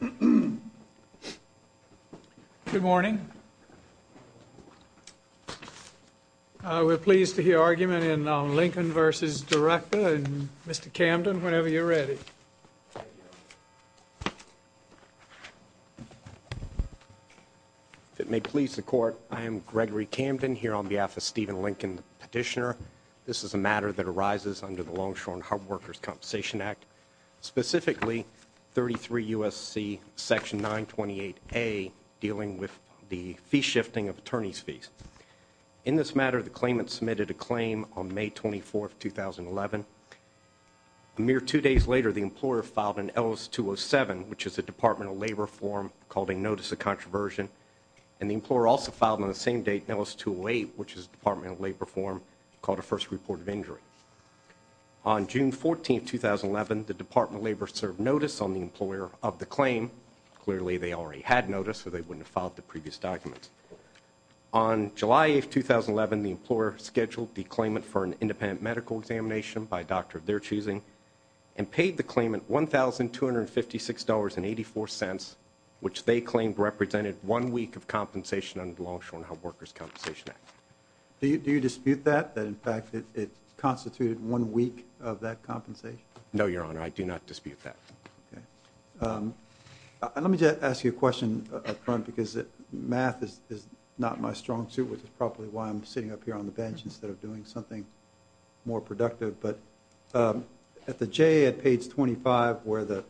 Good morning. We're pleased to hear argument in Lincoln v. Director. Mr. Camden, whenever you're ready. If it may please the court, I am Gregory Camden, here on behalf of Stephen Lincoln, petitioner. This is a matter that arises under the Longshore and Harbor Workers Compensation Act, specifically 33 U.S.C. section 928A, dealing with the fee shifting of attorney's fees. In this matter, the claimant submitted a claim on May 24th, 2011. A mere two days later, the employer filed an L.S. 207, which is a Department of Labor form called a Notice of Controversion. And the employer also filed on the same date, L.S. 208, which is a Department of Labor form called a First Report of Injury. On June 14th, 2011, the Department of Labor served notice on the employer of the claim. Clearly, they already had notice, so they wouldn't have filed the previous documents. On July 8th, 2011, the employer scheduled the claimant for an independent medical examination by a doctor of their choosing and paid the claimant $1,256.84, which they claimed represented one week of compensation under the Longshore and Harbor Workers Compensation Act. Do you dispute that, that in fact it constituted one week of that compensation? No, Your Honor, I do not dispute that. Okay. Let me just ask you a question up front, because math is not my strong suit, which is probably why I'm sitting up here on the bench instead of doing something more productive. But at the J at page 25 where the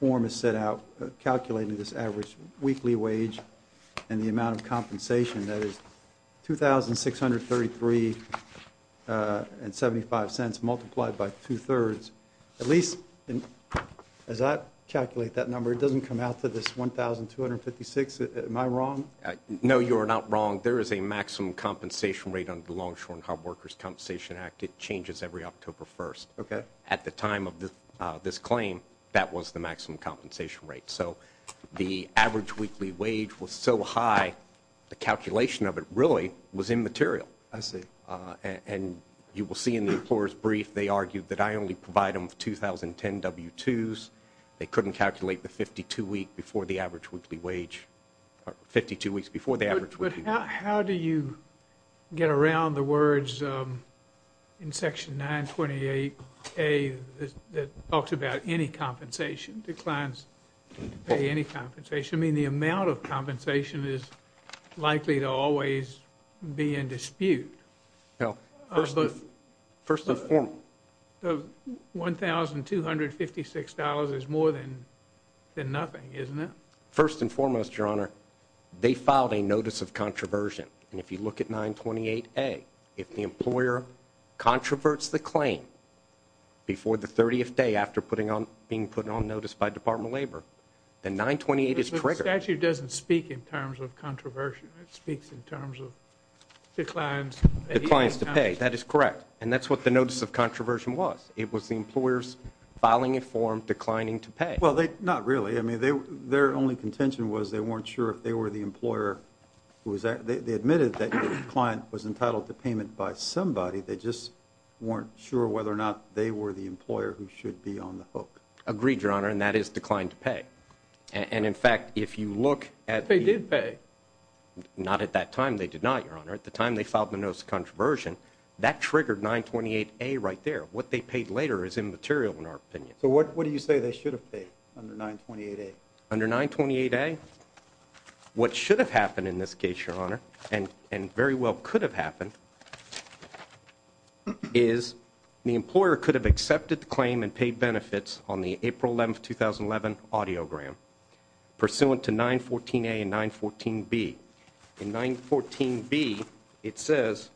form is set out calculating this average weekly wage and the amount of compensation, that is $2,633.75 multiplied by two-thirds. At least as I calculate that number, it doesn't come out to this $1,256. Am I wrong? No, you are not wrong. There is a maximum compensation rate under the Longshore and Harbor Workers Compensation Act. It changes every October 1st. Okay. At the time of this claim, that was the maximum compensation rate. So the average weekly wage was so high, the calculation of it really was immaterial. I see. And you will see in the employer's brief they argued that I only provide them with 2010 W-2s. They couldn't calculate the 52 weeks before the average weekly wage. But how do you get around the words in Section 928A that talks about any compensation, declines to pay any compensation? I mean, the amount of compensation is likely to always be in dispute. First the form. The $1,256 is more than nothing, isn't it? First and foremost, Your Honor, they filed a notice of controversy. And if you look at 928A, if the employer controverts the claim before the 30th day after being put on notice by Department of Labor, then 928 is triggered. But the statute doesn't speak in terms of controversy. It speaks in terms of declines. Declines to pay. That is correct. And that's what the notice of controversy was. It was the employer's filing a form declining to pay. Well, not really. I mean, their only contention was they weren't sure if they were the employer. They admitted that the client was entitled to payment by somebody. They just weren't sure whether or not they were the employer who should be on the hook. Agreed, Your Honor, and that is decline to pay. And, in fact, if you look at the- They did pay. Not at that time. They did not, Your Honor. At the time they filed the notice of controversy, that triggered 928A right there. What they paid later is immaterial in our opinion. So what do you say they should have paid under 928A? Under 928A, what should have happened in this case, Your Honor, and very well could have happened, is the employer could have accepted the claim and paid benefits on the April 11, 2011, audiogram pursuant to 914A and 914B. In 914B, it says,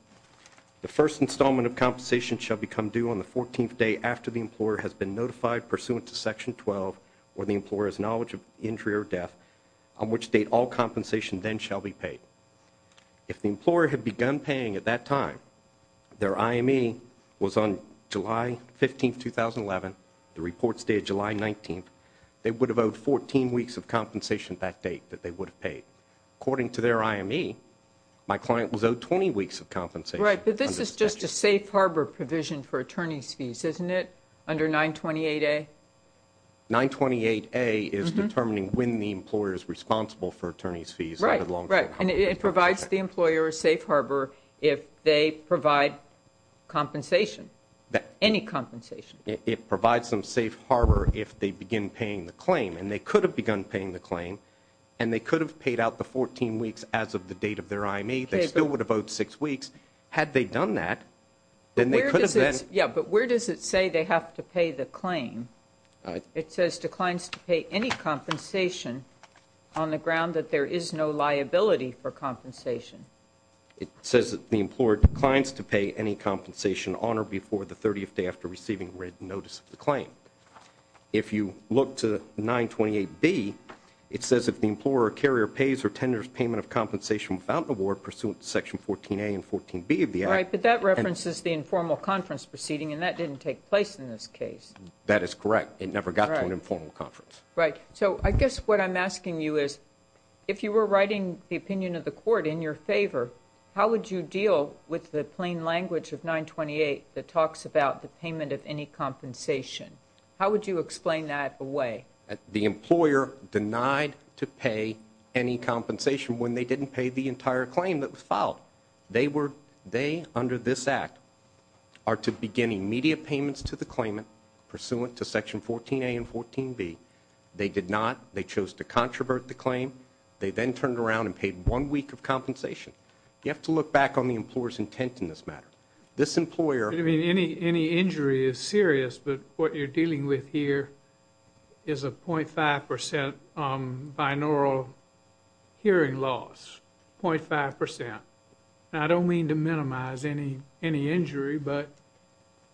the first installment of compensation shall become due on the 14th day after the employer has been notified pursuant to Section 12, or the employer's knowledge of injury or death, on which date all compensation then shall be paid. If the employer had begun paying at that time, their IME was on July 15, 2011, the report's date, July 19, they would have owed 14 weeks of compensation that date that they would have paid. According to their IME, my client was owed 20 weeks of compensation. Right, but this is just a safe harbor provision for attorney's fees, isn't it, under 928A? 928A is determining when the employer is responsible for attorney's fees. Right, right. And it provides the employer a safe harbor if they provide compensation, any compensation. And they could have begun paying the claim, and they could have paid out the 14 weeks as of the date of their IME. They still would have owed 6 weeks. Had they done that, then they could have been. Yeah, but where does it say they have to pay the claim? It says declines to pay any compensation on the ground that there is no liability for compensation. It says that the employer declines to pay any compensation on or before the 30th day after receiving written notice of the claim. If you look to 928B, it says if the employer or carrier pays or tenders payment of compensation without an award pursuant to Section 14A and 14B of the Act. All right, but that references the informal conference proceeding, and that didn't take place in this case. That is correct. It never got to an informal conference. Right. So I guess what I'm asking you is, if you were writing the opinion of the court in your favor, how would you deal with the plain language of 928 that talks about the payment of any compensation? How would you explain that away? The employer denied to pay any compensation when they didn't pay the entire claim that was filed. They, under this Act, are to begin immediate payments to the claimant pursuant to Section 14A and 14B. They did not. They chose to controvert the claim. They then turned around and paid one week of compensation. You have to look back on the employer's intent in this matter. This employer- You mean any injury is serious, but what you're dealing with here is a 0.5 percent binaural hearing loss, 0.5 percent. I don't mean to minimize any injury, but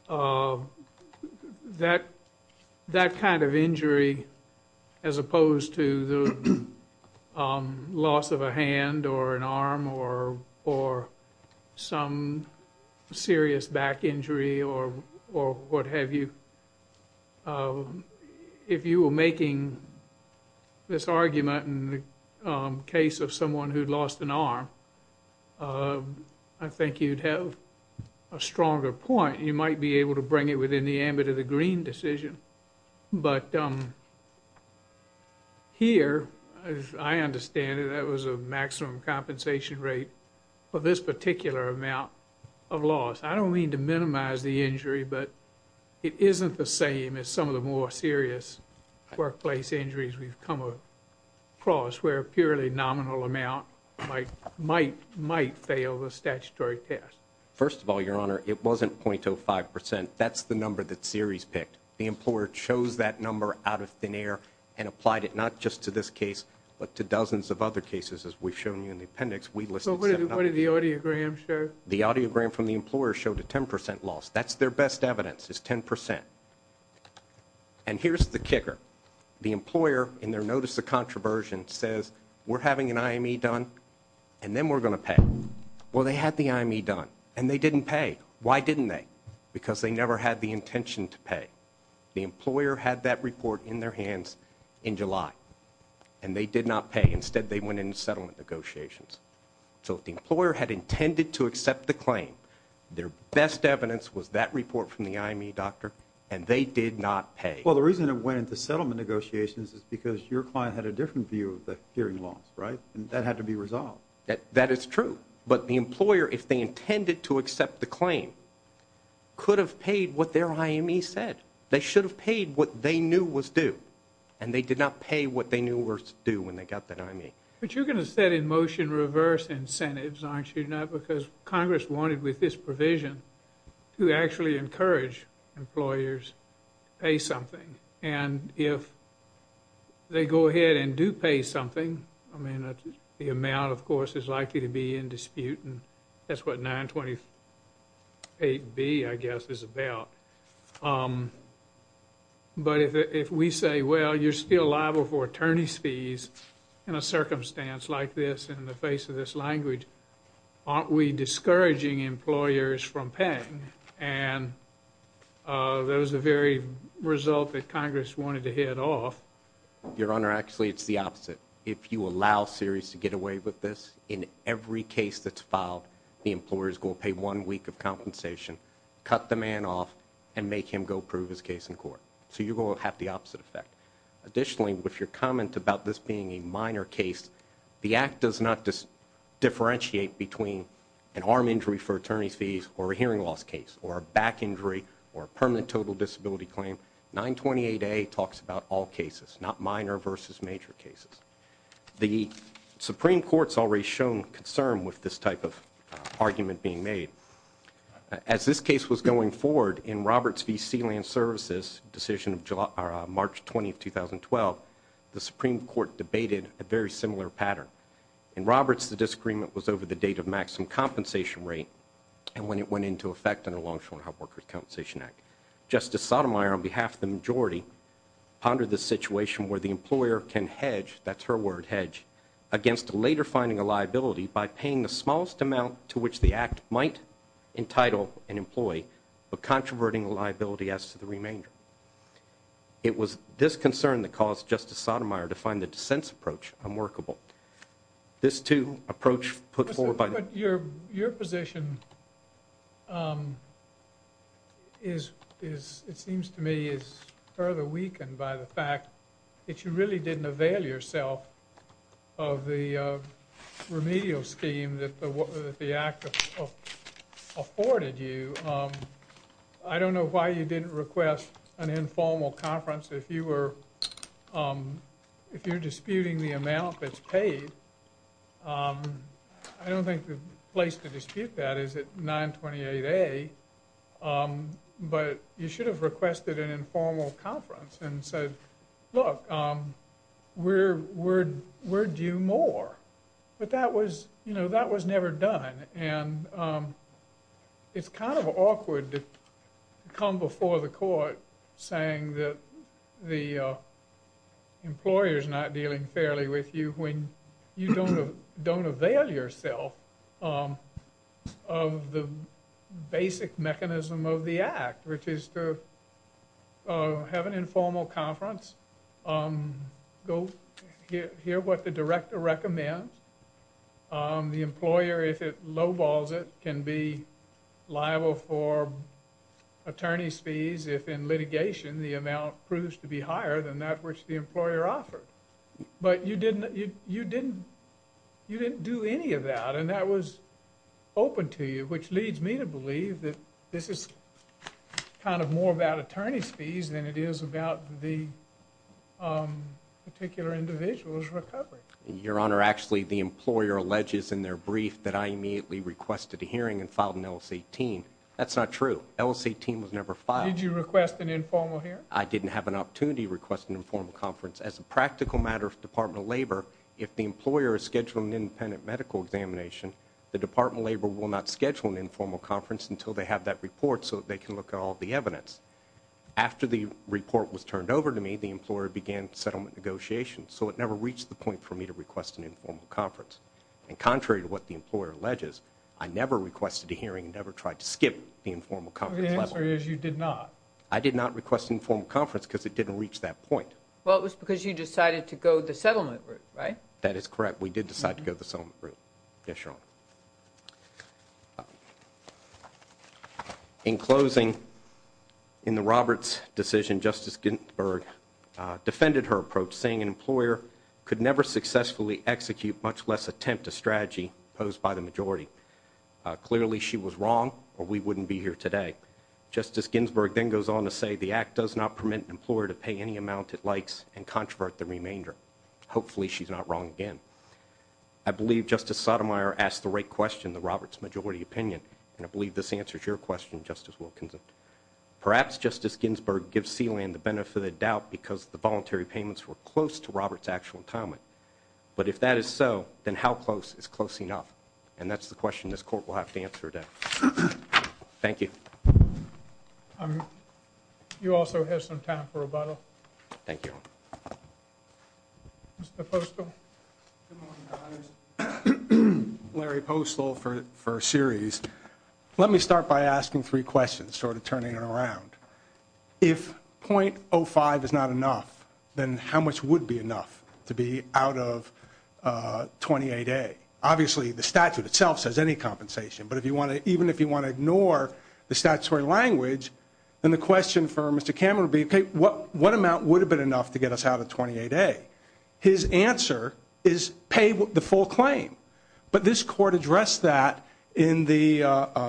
that kind of injury, as opposed to the loss of a hand or an arm or some serious back injury or what have you, if you were making this argument in the case of someone who'd lost an arm, I think you'd have a stronger point. You might be able to bring it within the ambit of the Green decision. But here, as I understand it, that was a maximum compensation rate for this particular amount of loss. I don't mean to minimize the injury, but it isn't the same as some of the more serious workplace injuries we've come across, where a purely nominal amount might fail the statutory test. First of all, Your Honor, it wasn't 0.05 percent. That's the number that Ceres picked. The employer chose that number out of thin air and applied it not just to this case, but to dozens of other cases, as we've shown you in the appendix. So what did the audiogram show? The audiogram from the employer showed a 10 percent loss. That's their best evidence, is 10 percent. And here's the kicker. The employer, in their notice of controversy, says, we're having an IME done, and then we're going to pay. Well, they had the IME done, and they didn't pay. Why didn't they? Because they never had the intention to pay. The employer had that report in their hands in July, and they did not pay. Instead, they went into settlement negotiations. So if the employer had intended to accept the claim, their best evidence was that report from the IME doctor, and they did not pay. Well, the reason it went into settlement negotiations is because your client had a different view of the hearing loss, right? That had to be resolved. That is true. But the employer, if they intended to accept the claim, could have paid what their IME said. They should have paid what they knew was due, and they did not pay what they knew was due when they got that IME. But you're going to set in motion reverse incentives, aren't you? Not because Congress wanted with this provision to actually encourage employers to pay something. And if they go ahead and do pay something, I mean, the amount, of course, is likely to be in dispute, and that's what 928B, I guess, is about. But if we say, well, you're still liable for attorney's fees in a circumstance like this, in the face of this language, aren't we discouraging employers from paying? And that was the very result that Congress wanted to hit off. Your Honor, actually, it's the opposite. If you allow series to get away with this, in every case that's filed, the employer is going to pay one week of compensation, cut the man off, and make him go prove his case in court. So you're going to have the opposite effect. Additionally, with your comment about this being a minor case, the Act does not differentiate between an arm injury for attorney's fees or a hearing loss case or a back injury or a permanent total disability claim. 928A talks about all cases, not minor versus major cases. The Supreme Court's already shown concern with this type of argument being made. As this case was going forward, in Roberts v. Sealand Services, decision of March 20, 2012, the Supreme Court debated a very similar pattern. In Roberts, the disagreement was over the date of maximum compensation rate and when it went into effect under the Long-Term Unemployment Compensation Act. Justice Sotomayor, on behalf of the majority, pondered the situation where the employer can hedge, that's her word, hedge, against later finding a liability by paying the smallest amount to which the Act might entitle an employee but controverting liability as to the remainder. It was this concern that caused Justice Sotomayor to find the dissent's approach unworkable. This, too, approach put forward by the- Your position is, it seems to me, is further weakened by the fact that you really didn't avail yourself of the remedial scheme that the Act afforded you. I don't know why you didn't request an informal conference. If you were disputing the amount that's paid, I don't think the place to dispute that is at 928A, but you should have requested an informal conference and said, Look, we're due more, but that was, you know, that was never done and it's kind of awkward to come before the court saying that the employer's not dealing fairly with you when you don't avail yourself of the basic mechanism of the Act, which is to have an informal conference, hear what the director recommends. The employer, if it lowballs it, can be liable for attorney's fees if in litigation the amount proves to be higher than that which the employer offered. But you didn't do any of that and that was open to you, which leads me to believe that this is kind of more about attorney's fees than it is about the particular individual's recovery. Your Honor, actually, the employer alleges in their brief that I immediately requested a hearing and filed an LLC team. That's not true. LLC team was never filed. Did you request an informal hearing? I didn't have an opportunity to request an informal conference. As a practical matter for the Department of Labor, if the employer is scheduling an independent medical examination, the Department of Labor will not schedule an informal conference until they have that report so they can look at all the evidence. After the report was turned over to me, the employer began settlement negotiations, so it never reached the point for me to request an informal conference. And contrary to what the employer alleges, I never requested a hearing and never tried to skip the informal conference level. The answer is you did not. I did not request an informal conference because it didn't reach that point. Well, it was because you decided to go the settlement route, right? That is correct. We did decide to go the settlement route, yes, Your Honor. In closing, in the Roberts decision, Justice Ginsburg defended her approach, saying an employer could never successfully execute much less attempt a strategy posed by the majority. Clearly, she was wrong, or we wouldn't be here today. Justice Ginsburg then goes on to say the Act does not permit an employer to pay any amount it likes and controvert the remainder. Hopefully, she's not wrong again. I believe Justice Sotomayor asked the right question, the Roberts majority opinion, and I believe this answers your question, Justice Wilkinson. Perhaps Justice Ginsburg gives Sealand the benefit of the doubt because the voluntary payments were close to Roberts' actual entitlement. But if that is so, then how close is close enough? And that's the question this court will have to answer today. Thank you. You also have some time for rebuttal. Thank you. Mr. Postol. Good morning, Your Honors. Larry Postol for a series. Let me start by asking three questions, sort of turning it around. If .05 is not enough, then how much would be enough to be out of 28A? Obviously, the statute itself says any compensation, but even if you want to ignore the statutory language, then the question for Mr. Cameron would be, okay, what amount would have been enough to get us out of 28A? His answer is pay the full claim. But this court addressed that in the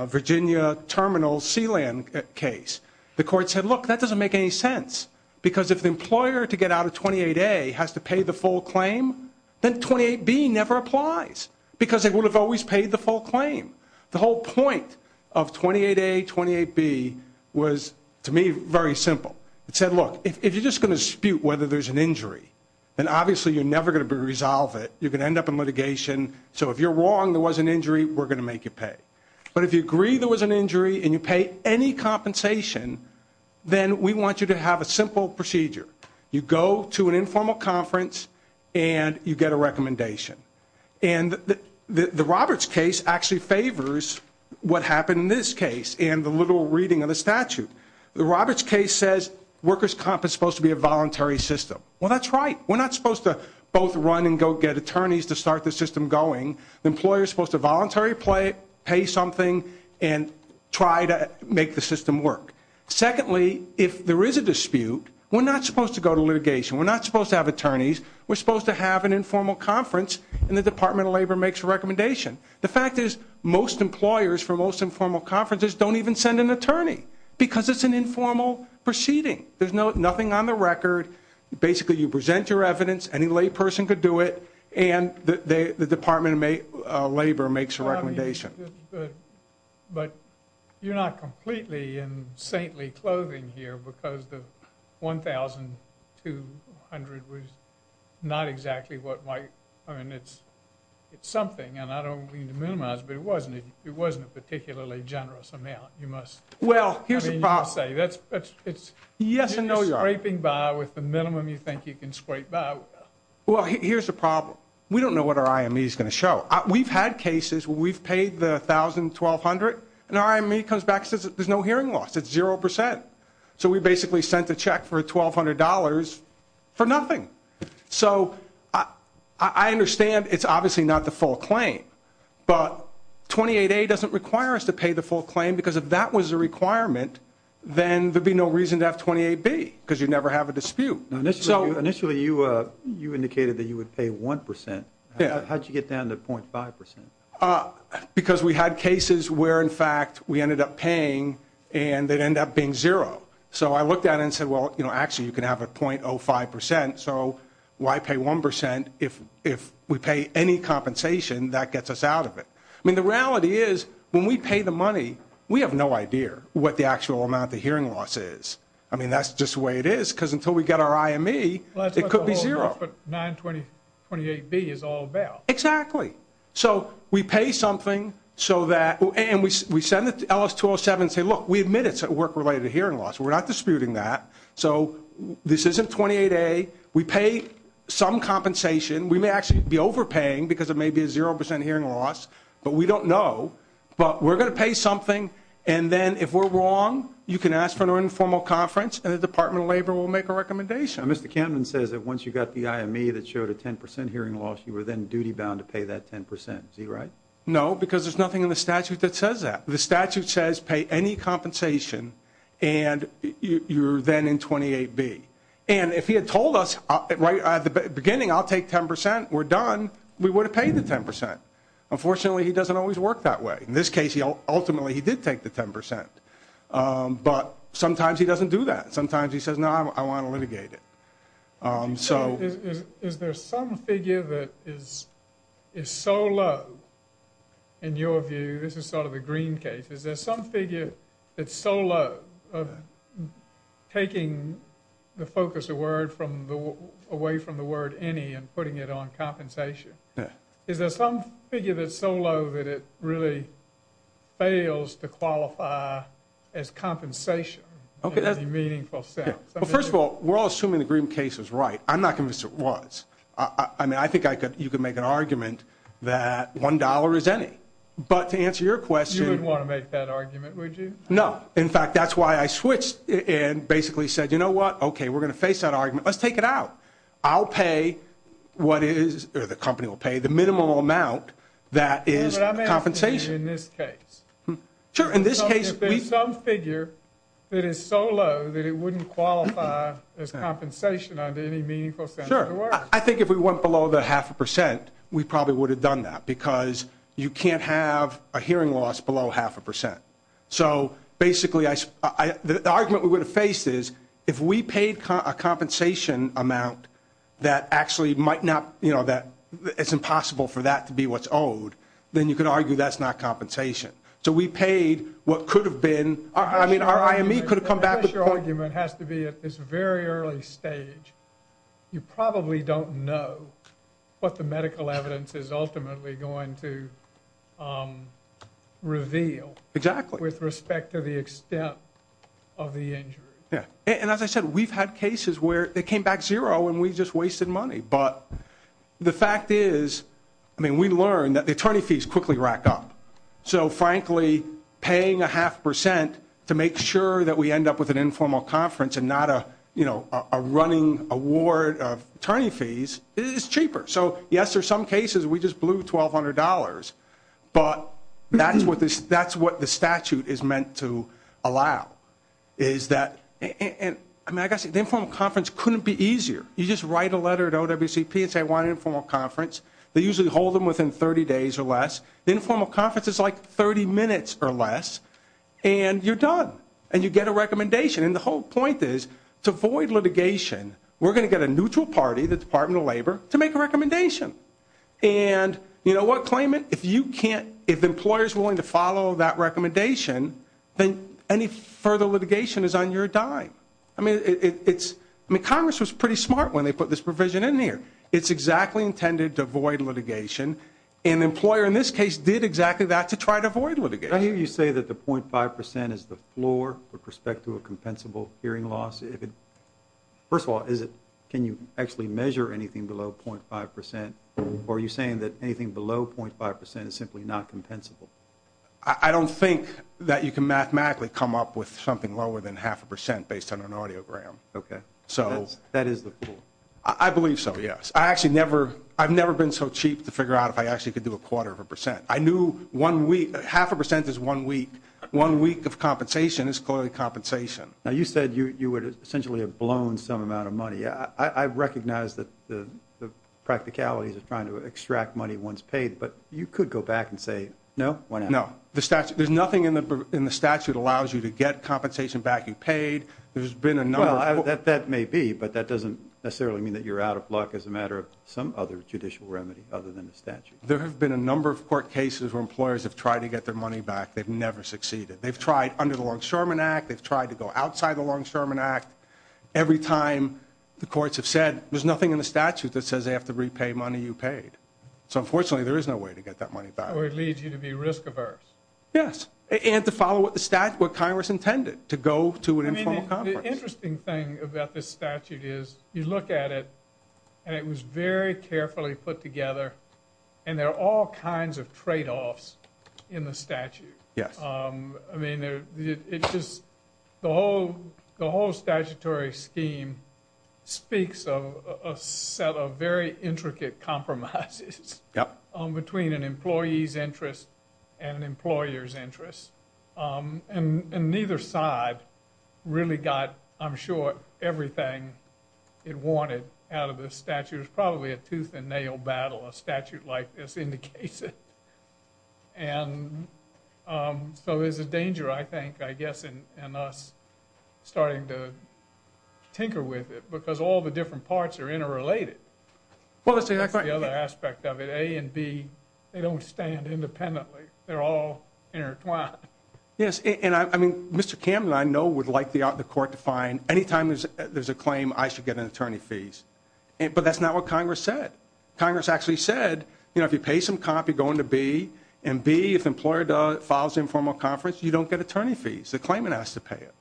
Virginia Terminal Sealand case. The court said, look, that doesn't make any sense because if the employer to get out of 28A has to pay the full claim, then 28B never applies because they would have always paid the full claim. The whole point of 28A, 28B was, to me, very simple. It said, look, if you're just going to dispute whether there's an injury, then obviously you're never going to resolve it. You're going to end up in litigation. So if you're wrong, there was an injury, we're going to make you pay. But if you agree there was an injury and you pay any compensation, then we want you to have a simple procedure. You go to an informal conference and you get a recommendation. And the Roberts case actually favors what happened in this case and the literal reading of the statute. The Roberts case says workers' comp is supposed to be a voluntary system. Well, that's right. We're not supposed to both run and go get attorneys to start the system going. The employer is supposed to voluntarily pay something and try to make the system work. Secondly, if there is a dispute, we're not supposed to go to litigation. We're not supposed to have attorneys. We're supposed to have an informal conference and the Department of Labor makes a recommendation. The fact is most employers for most informal conferences don't even send an attorney because it's an informal proceeding. There's nothing on the record. Basically, you present your evidence. Any lay person could do it. And the Department of Labor makes a recommendation. But you're not completely in saintly clothing here because the $1,200 was not exactly what my ‑‑ I mean, it's something, and I don't mean to minimize it, but it wasn't a particularly generous amount. Well, here's the problem. You're scraping by with the minimum you think you can scrape by with. Well, here's the problem. We don't know what our IME is going to show. We've had cases where we've paid the $1,200, and our IME comes back and says there's no hearing loss. It's 0%. So we basically sent a check for $1,200 for nothing. So I understand it's obviously not the full claim. But 28A doesn't require us to pay the full claim because if that was a requirement, then there'd be no reason to have 28B because you'd never have a dispute. Initially, you indicated that you would pay 1%. How did you get down to 0.5%? Because we had cases where, in fact, we ended up paying, and it ended up being 0. So I looked at it and said, well, actually, you can have it 0.05%. So why pay 1%? And if we pay any compensation, that gets us out of it. I mean, the reality is when we pay the money, we have no idea what the actual amount of hearing loss is. I mean, that's just the way it is because until we get our IME, it could be 0. But 928B is all about. Exactly. So we pay something, and we send it to LS207 and say, look, we admit it's a work-related hearing loss. We're not disputing that. So this isn't 28A. We pay some compensation. We may actually be overpaying because it may be a 0% hearing loss, but we don't know. But we're going to pay something, and then if we're wrong, you can ask for an informal conference, and the Department of Labor will make a recommendation. Mr. Camden says that once you got the IME that showed a 10% hearing loss, you were then duty-bound to pay that 10%. Is he right? No, because there's nothing in the statute that says that. The statute says pay any compensation, and you're then in 28B. And if he had told us right at the beginning, I'll take 10%, we're done, we would have paid the 10%. Unfortunately, he doesn't always work that way. In this case, ultimately, he did take the 10%. But sometimes he doesn't do that. Sometimes he says, no, I want to litigate it. Is there some figure that is so low, in your view, this is sort of the green case, is there some figure that's so low of taking the focus away from the word any and putting it on compensation? Is there some figure that's so low that it really fails to qualify as compensation in any meaningful sense? Well, first of all, we're all assuming the green case is right. I'm not convinced it was. I mean, I think you could make an argument that $1 is any. But to answer your question. You wouldn't want to make that argument, would you? No. In fact, that's why I switched and basically said, you know what, okay, we're going to face that argument. Let's take it out. I'll pay what is, or the company will pay the minimal amount that is compensation. But I'm asking you in this case. Sure, in this case. Is there some figure that is so low that it wouldn't qualify as compensation under any meaningful sense of the word? Sure. I think if we went below the half a percent, we probably would have done that because you can't have a hearing loss below half a percent. So basically the argument we would have faced is if we paid a compensation amount that actually might not, you know, that it's impossible for that to be what's owed, then you could argue that's not compensation. So we paid what could have been. I mean, our IME could have come back. Your argument has to be at this very early stage. You probably don't know what the medical evidence is ultimately going to reveal. Exactly. With respect to the extent of the injury. And as I said, we've had cases where they came back zero and we just wasted money. But the fact is, I mean, we learned that the attorney fees quickly rack up. So, frankly, paying a half percent to make sure that we end up with an informal conference and not a, you know, a running award of attorney fees is cheaper. So, yes, there's some cases we just blew $1,200. But that's what the statute is meant to allow is that the informal conference couldn't be easier. You just write a letter to OWCP and say I want an informal conference. They usually hold them within 30 days or less. The informal conference is like 30 minutes or less. And you're done. And you get a recommendation. And the whole point is to avoid litigation, we're going to get a neutral party, the Department of Labor, to make a recommendation. And, you know what, claimant, if you can't, if the employer is willing to follow that recommendation, then any further litigation is on your dime. I mean, it's, I mean, Congress was pretty smart when they put this provision in there. It's exactly intended to avoid litigation. And the employer in this case did exactly that to try to avoid litigation. I hear you say that the 0.5% is the floor with respect to a compensable hearing loss. First of all, can you actually measure anything below 0.5%? Or are you saying that anything below 0.5% is simply not compensable? I don't think that you can mathematically come up with something lower than half a percent based on an audiogram. Okay. That is the floor. I believe so, yes. I actually never, I've never been so cheap to figure out if I actually could do a quarter of a percent. I knew one week, half a percent is one week. One week of compensation is clearly compensation. Now, you said you would essentially have blown some amount of money. I recognize the practicalities of trying to extract money once paid, but you could go back and say, no. No. There's nothing in the statute allows you to get compensation back you paid. Well, that may be, but that doesn't necessarily mean that you're out of luck as a matter of some other judicial remedy other than the statute. There have been a number of court cases where employers have tried to get their money back. They've never succeeded. They've tried under the Longshoreman Act. They've tried to go outside the Longshoreman Act. Every time the courts have said there's nothing in the statute that says they have to repay money you paid. So, unfortunately, there is no way to get that money back. So it leads you to be risk averse. Yes. And to follow what Congress intended, to go to an informal conference. The interesting thing about this statute is you look at it, and it was very carefully put together, and there are all kinds of tradeoffs in the statute. Yes. I mean, it's just the whole statutory scheme speaks of a set of very intricate compromises between an employee's interest and an employer's interest. And neither side really got, I'm sure, everything it wanted out of this statute. It was probably a tooth and nail battle, a statute like this indicates it. And so there's a danger, I think, I guess, in us starting to tinker with it because all the different parts are interrelated. Well, that's exactly right. That's the other aspect of it. A and B, they don't stand independently. They're all intertwined. Yes. And, I mean, Mr. Cameron, I know, would like the court to find any time there's a claim, I should get an attorney fees. But that's not what Congress said. Congress actually said, you know, if you pay some comp, you're going to B. And B, if the employer files an informal conference, you don't get attorney fees. The claimant has to pay it,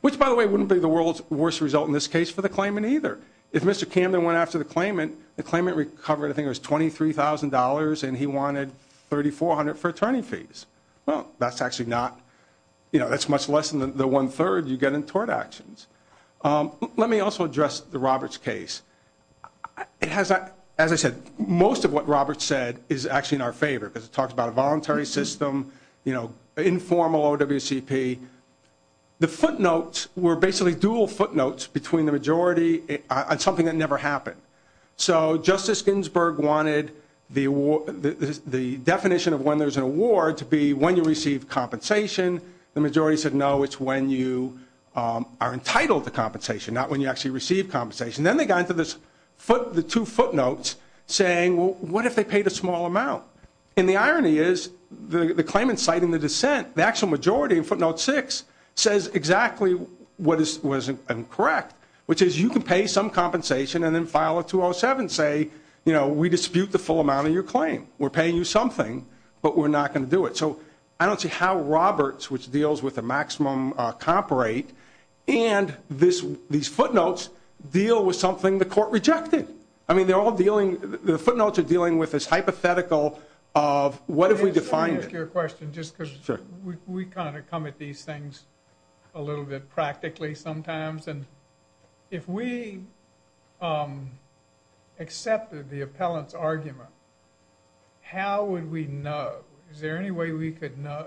which, by the way, wouldn't be the world's worst result in this case for the claimant either. If Mr. Cameron went after the claimant, the claimant recovered, I think it was $23,000, and he wanted $3,400 for attorney fees. Well, that's actually not, you know, that's much less than the one-third you get in tort actions. Let me also address the Roberts case. It has, as I said, most of what Roberts said is actually in our favor because it talks about a voluntary system, you know, informal OWCP. The footnotes were basically dual footnotes between the majority on something that never happened. So Justice Ginsburg wanted the definition of when there's an award to be when you receive compensation. The majority said, no, it's when you are entitled to compensation, not when you actually receive compensation. Then they got into the two footnotes saying, well, what if they paid a small amount? And the irony is the claimant citing the dissent, the actual majority in footnote six, says exactly what is incorrect, which is you can pay some compensation and then file a 207 and say, you know, we dispute the full amount of your claim. We're paying you something, but we're not going to do it. So I don't see how Roberts, which deals with the maximum comp rate, and these footnotes deal with something the court rejected. I mean, they're all dealing, the footnotes are dealing with this hypothetical of what if we define it. Let me ask you a question just because we kind of come at these things a little bit practically sometimes. If we accepted the appellant's argument, how would we know? Is there any way we could know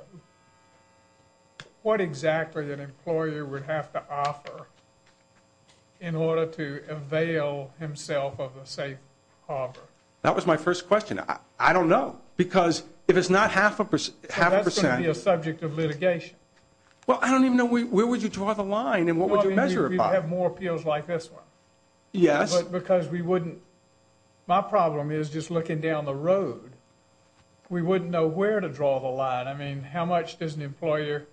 what exactly an employer would have to offer in order to avail himself of a safe harbor? That was my first question. I don't know, because if it's not half a percent, that's going to be a subject of litigation. Well, I don't even know, where would you draw the line and what would you measure it by? You'd have more appeals like this one. Yes. Because we wouldn't, my problem is just looking down the road, we wouldn't know where to draw the line. I mean, how much does an employer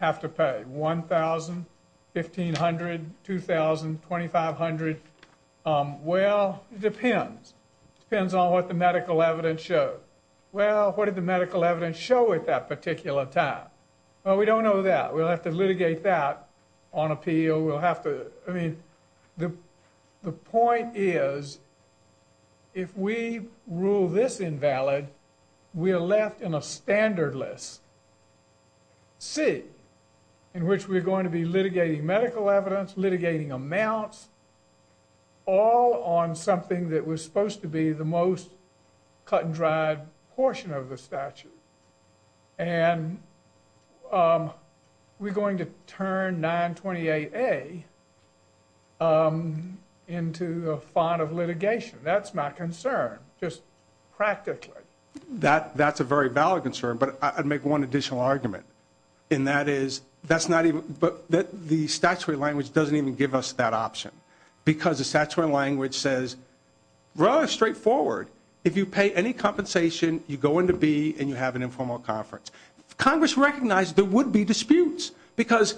have to pay, $1,000, $1,500, $2,000, $2,500? Well, it depends. It depends on what the medical evidence shows. Well, what did the medical evidence show at that particular time? Well, we don't know that. We'll have to litigate that on appeal. We'll have to, I mean, the point is, if we rule this invalid, we're left in a standardless seat, in which we're going to be litigating medical evidence, litigating amounts, all on something that was supposed to be the most cut and dried portion of the statute, and we're going to turn 928A into a fine of litigation. That's my concern, just practically. That's a very valid concern, but I'd make one additional argument, and that is the statutory language doesn't even give us that option because the statutory language says, rather straightforward, if you pay any compensation, you go into B and you have an informal conference. Congress recognized there would be disputes because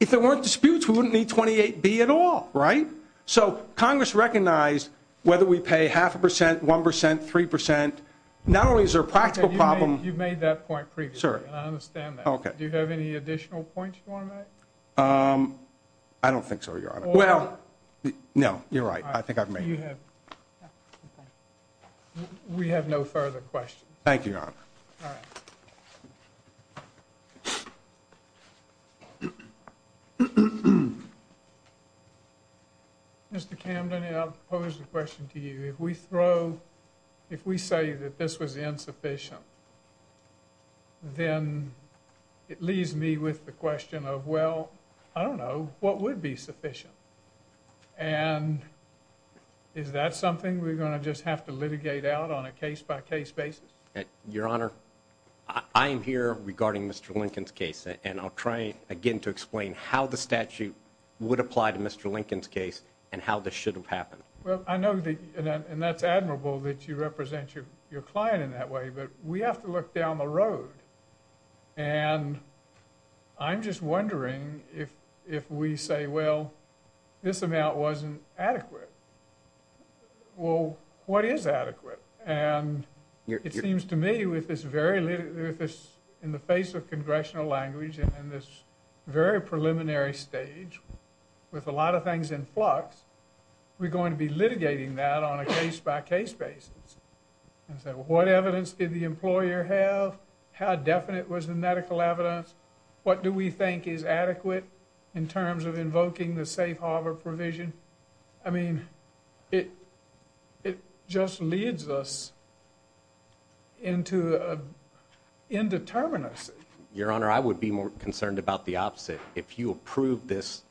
if there weren't disputes, we wouldn't need 28B at all, right? So Congress recognized whether we pay half a percent, one percent, three percent, not only is there a practical problem. You made that point previously, and I understand that. Okay. Do you have any additional points you want to make? I don't think so, Your Honor. Well, no, you're right. I think I've made it. We have no further questions. Thank you, Your Honor. All right. Mr. Camden, I'll pose a question to you. If we say that this was insufficient, then it leaves me with the question of, well, I don't know, what would be sufficient? And is that something we're going to just have to litigate out on a case-by-case basis? Your Honor, I am here regarding Mr. Lincoln's case, and I'll try again to explain how the statute would apply to Mr. Lincoln's case and how this should have happened. Well, I know, and that's admirable that you represent your client in that way, but we have to look down the road. And I'm just wondering if we say, well, this amount wasn't adequate. Well, what is adequate? And it seems to me with this very litigated, in the face of congressional language and this very preliminary stage, with a lot of things in flux, we're going to be litigating that on a case-by-case basis and say, well, what evidence did the employer have? How definite was the medical evidence? What do we think is adequate in terms of invoking the safe harbor provision? I mean, it just leads us into indeterminacy. Your Honor, I would be more concerned about the opposite. If you approve this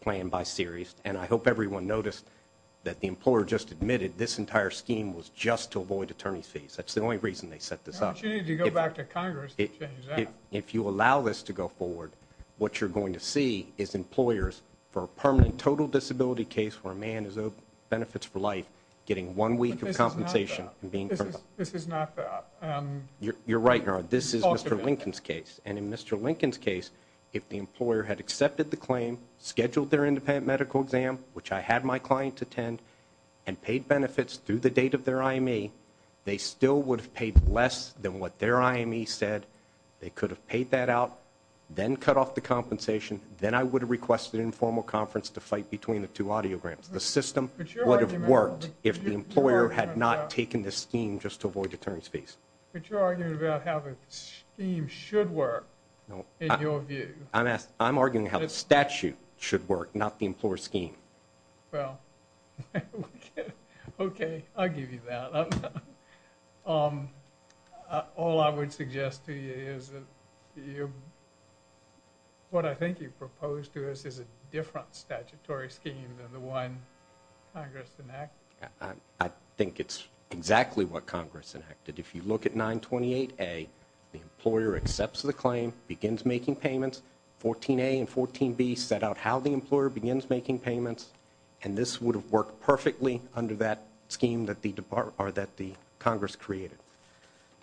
plan by series, and I hope everyone noticed that the employer just admitted this entire scheme was just to avoid attorney's fees. That's the only reason they set this up. Why don't you need to go back to Congress to change that? If you allow this to go forward, what you're going to see is employers for a permanent total disability case where a man is owed benefits for life getting one week of compensation. This is not that. You're right, Your Honor. This is Mr. Lincoln's case. And in Mr. Lincoln's case, if the employer had accepted the claim, scheduled their independent medical exam, which I had my client attend, and paid benefits through the date of their IME, they still would have paid less than what their IME said. They could have paid that out, then cut off the compensation. Then I would have requested an informal conference to fight between the two audiograms. The system would have worked if the employer had not taken this scheme just to avoid attorney's fees. But you're arguing about how the scheme should work, in your view. I'm arguing how the statute should work, not the employer's scheme. Well, okay, I'll give you that. All I would suggest to you is that what I think you proposed to us is a different statutory scheme than the one Congress enacted. I think it's exactly what Congress enacted. If you look at 928A, the employer accepts the claim, begins making payments. 14A and 14B set out how the employer begins making payments, and this would have worked perfectly under that scheme that the Congress created.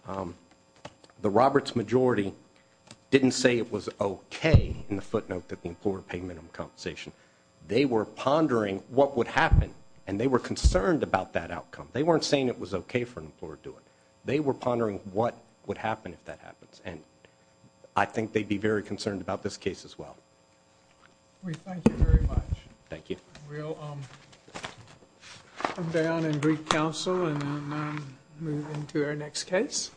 The Roberts majority didn't say it was okay in the footnote that the employer paid minimum compensation. They were pondering what would happen, and they were concerned about that outcome. They weren't saying it was okay for an employer to do it. They were pondering what would happen if that happens, and I think they'd be very concerned about this case as well. We thank you very much. Thank you. We'll come down and greet counsel and move into our next case.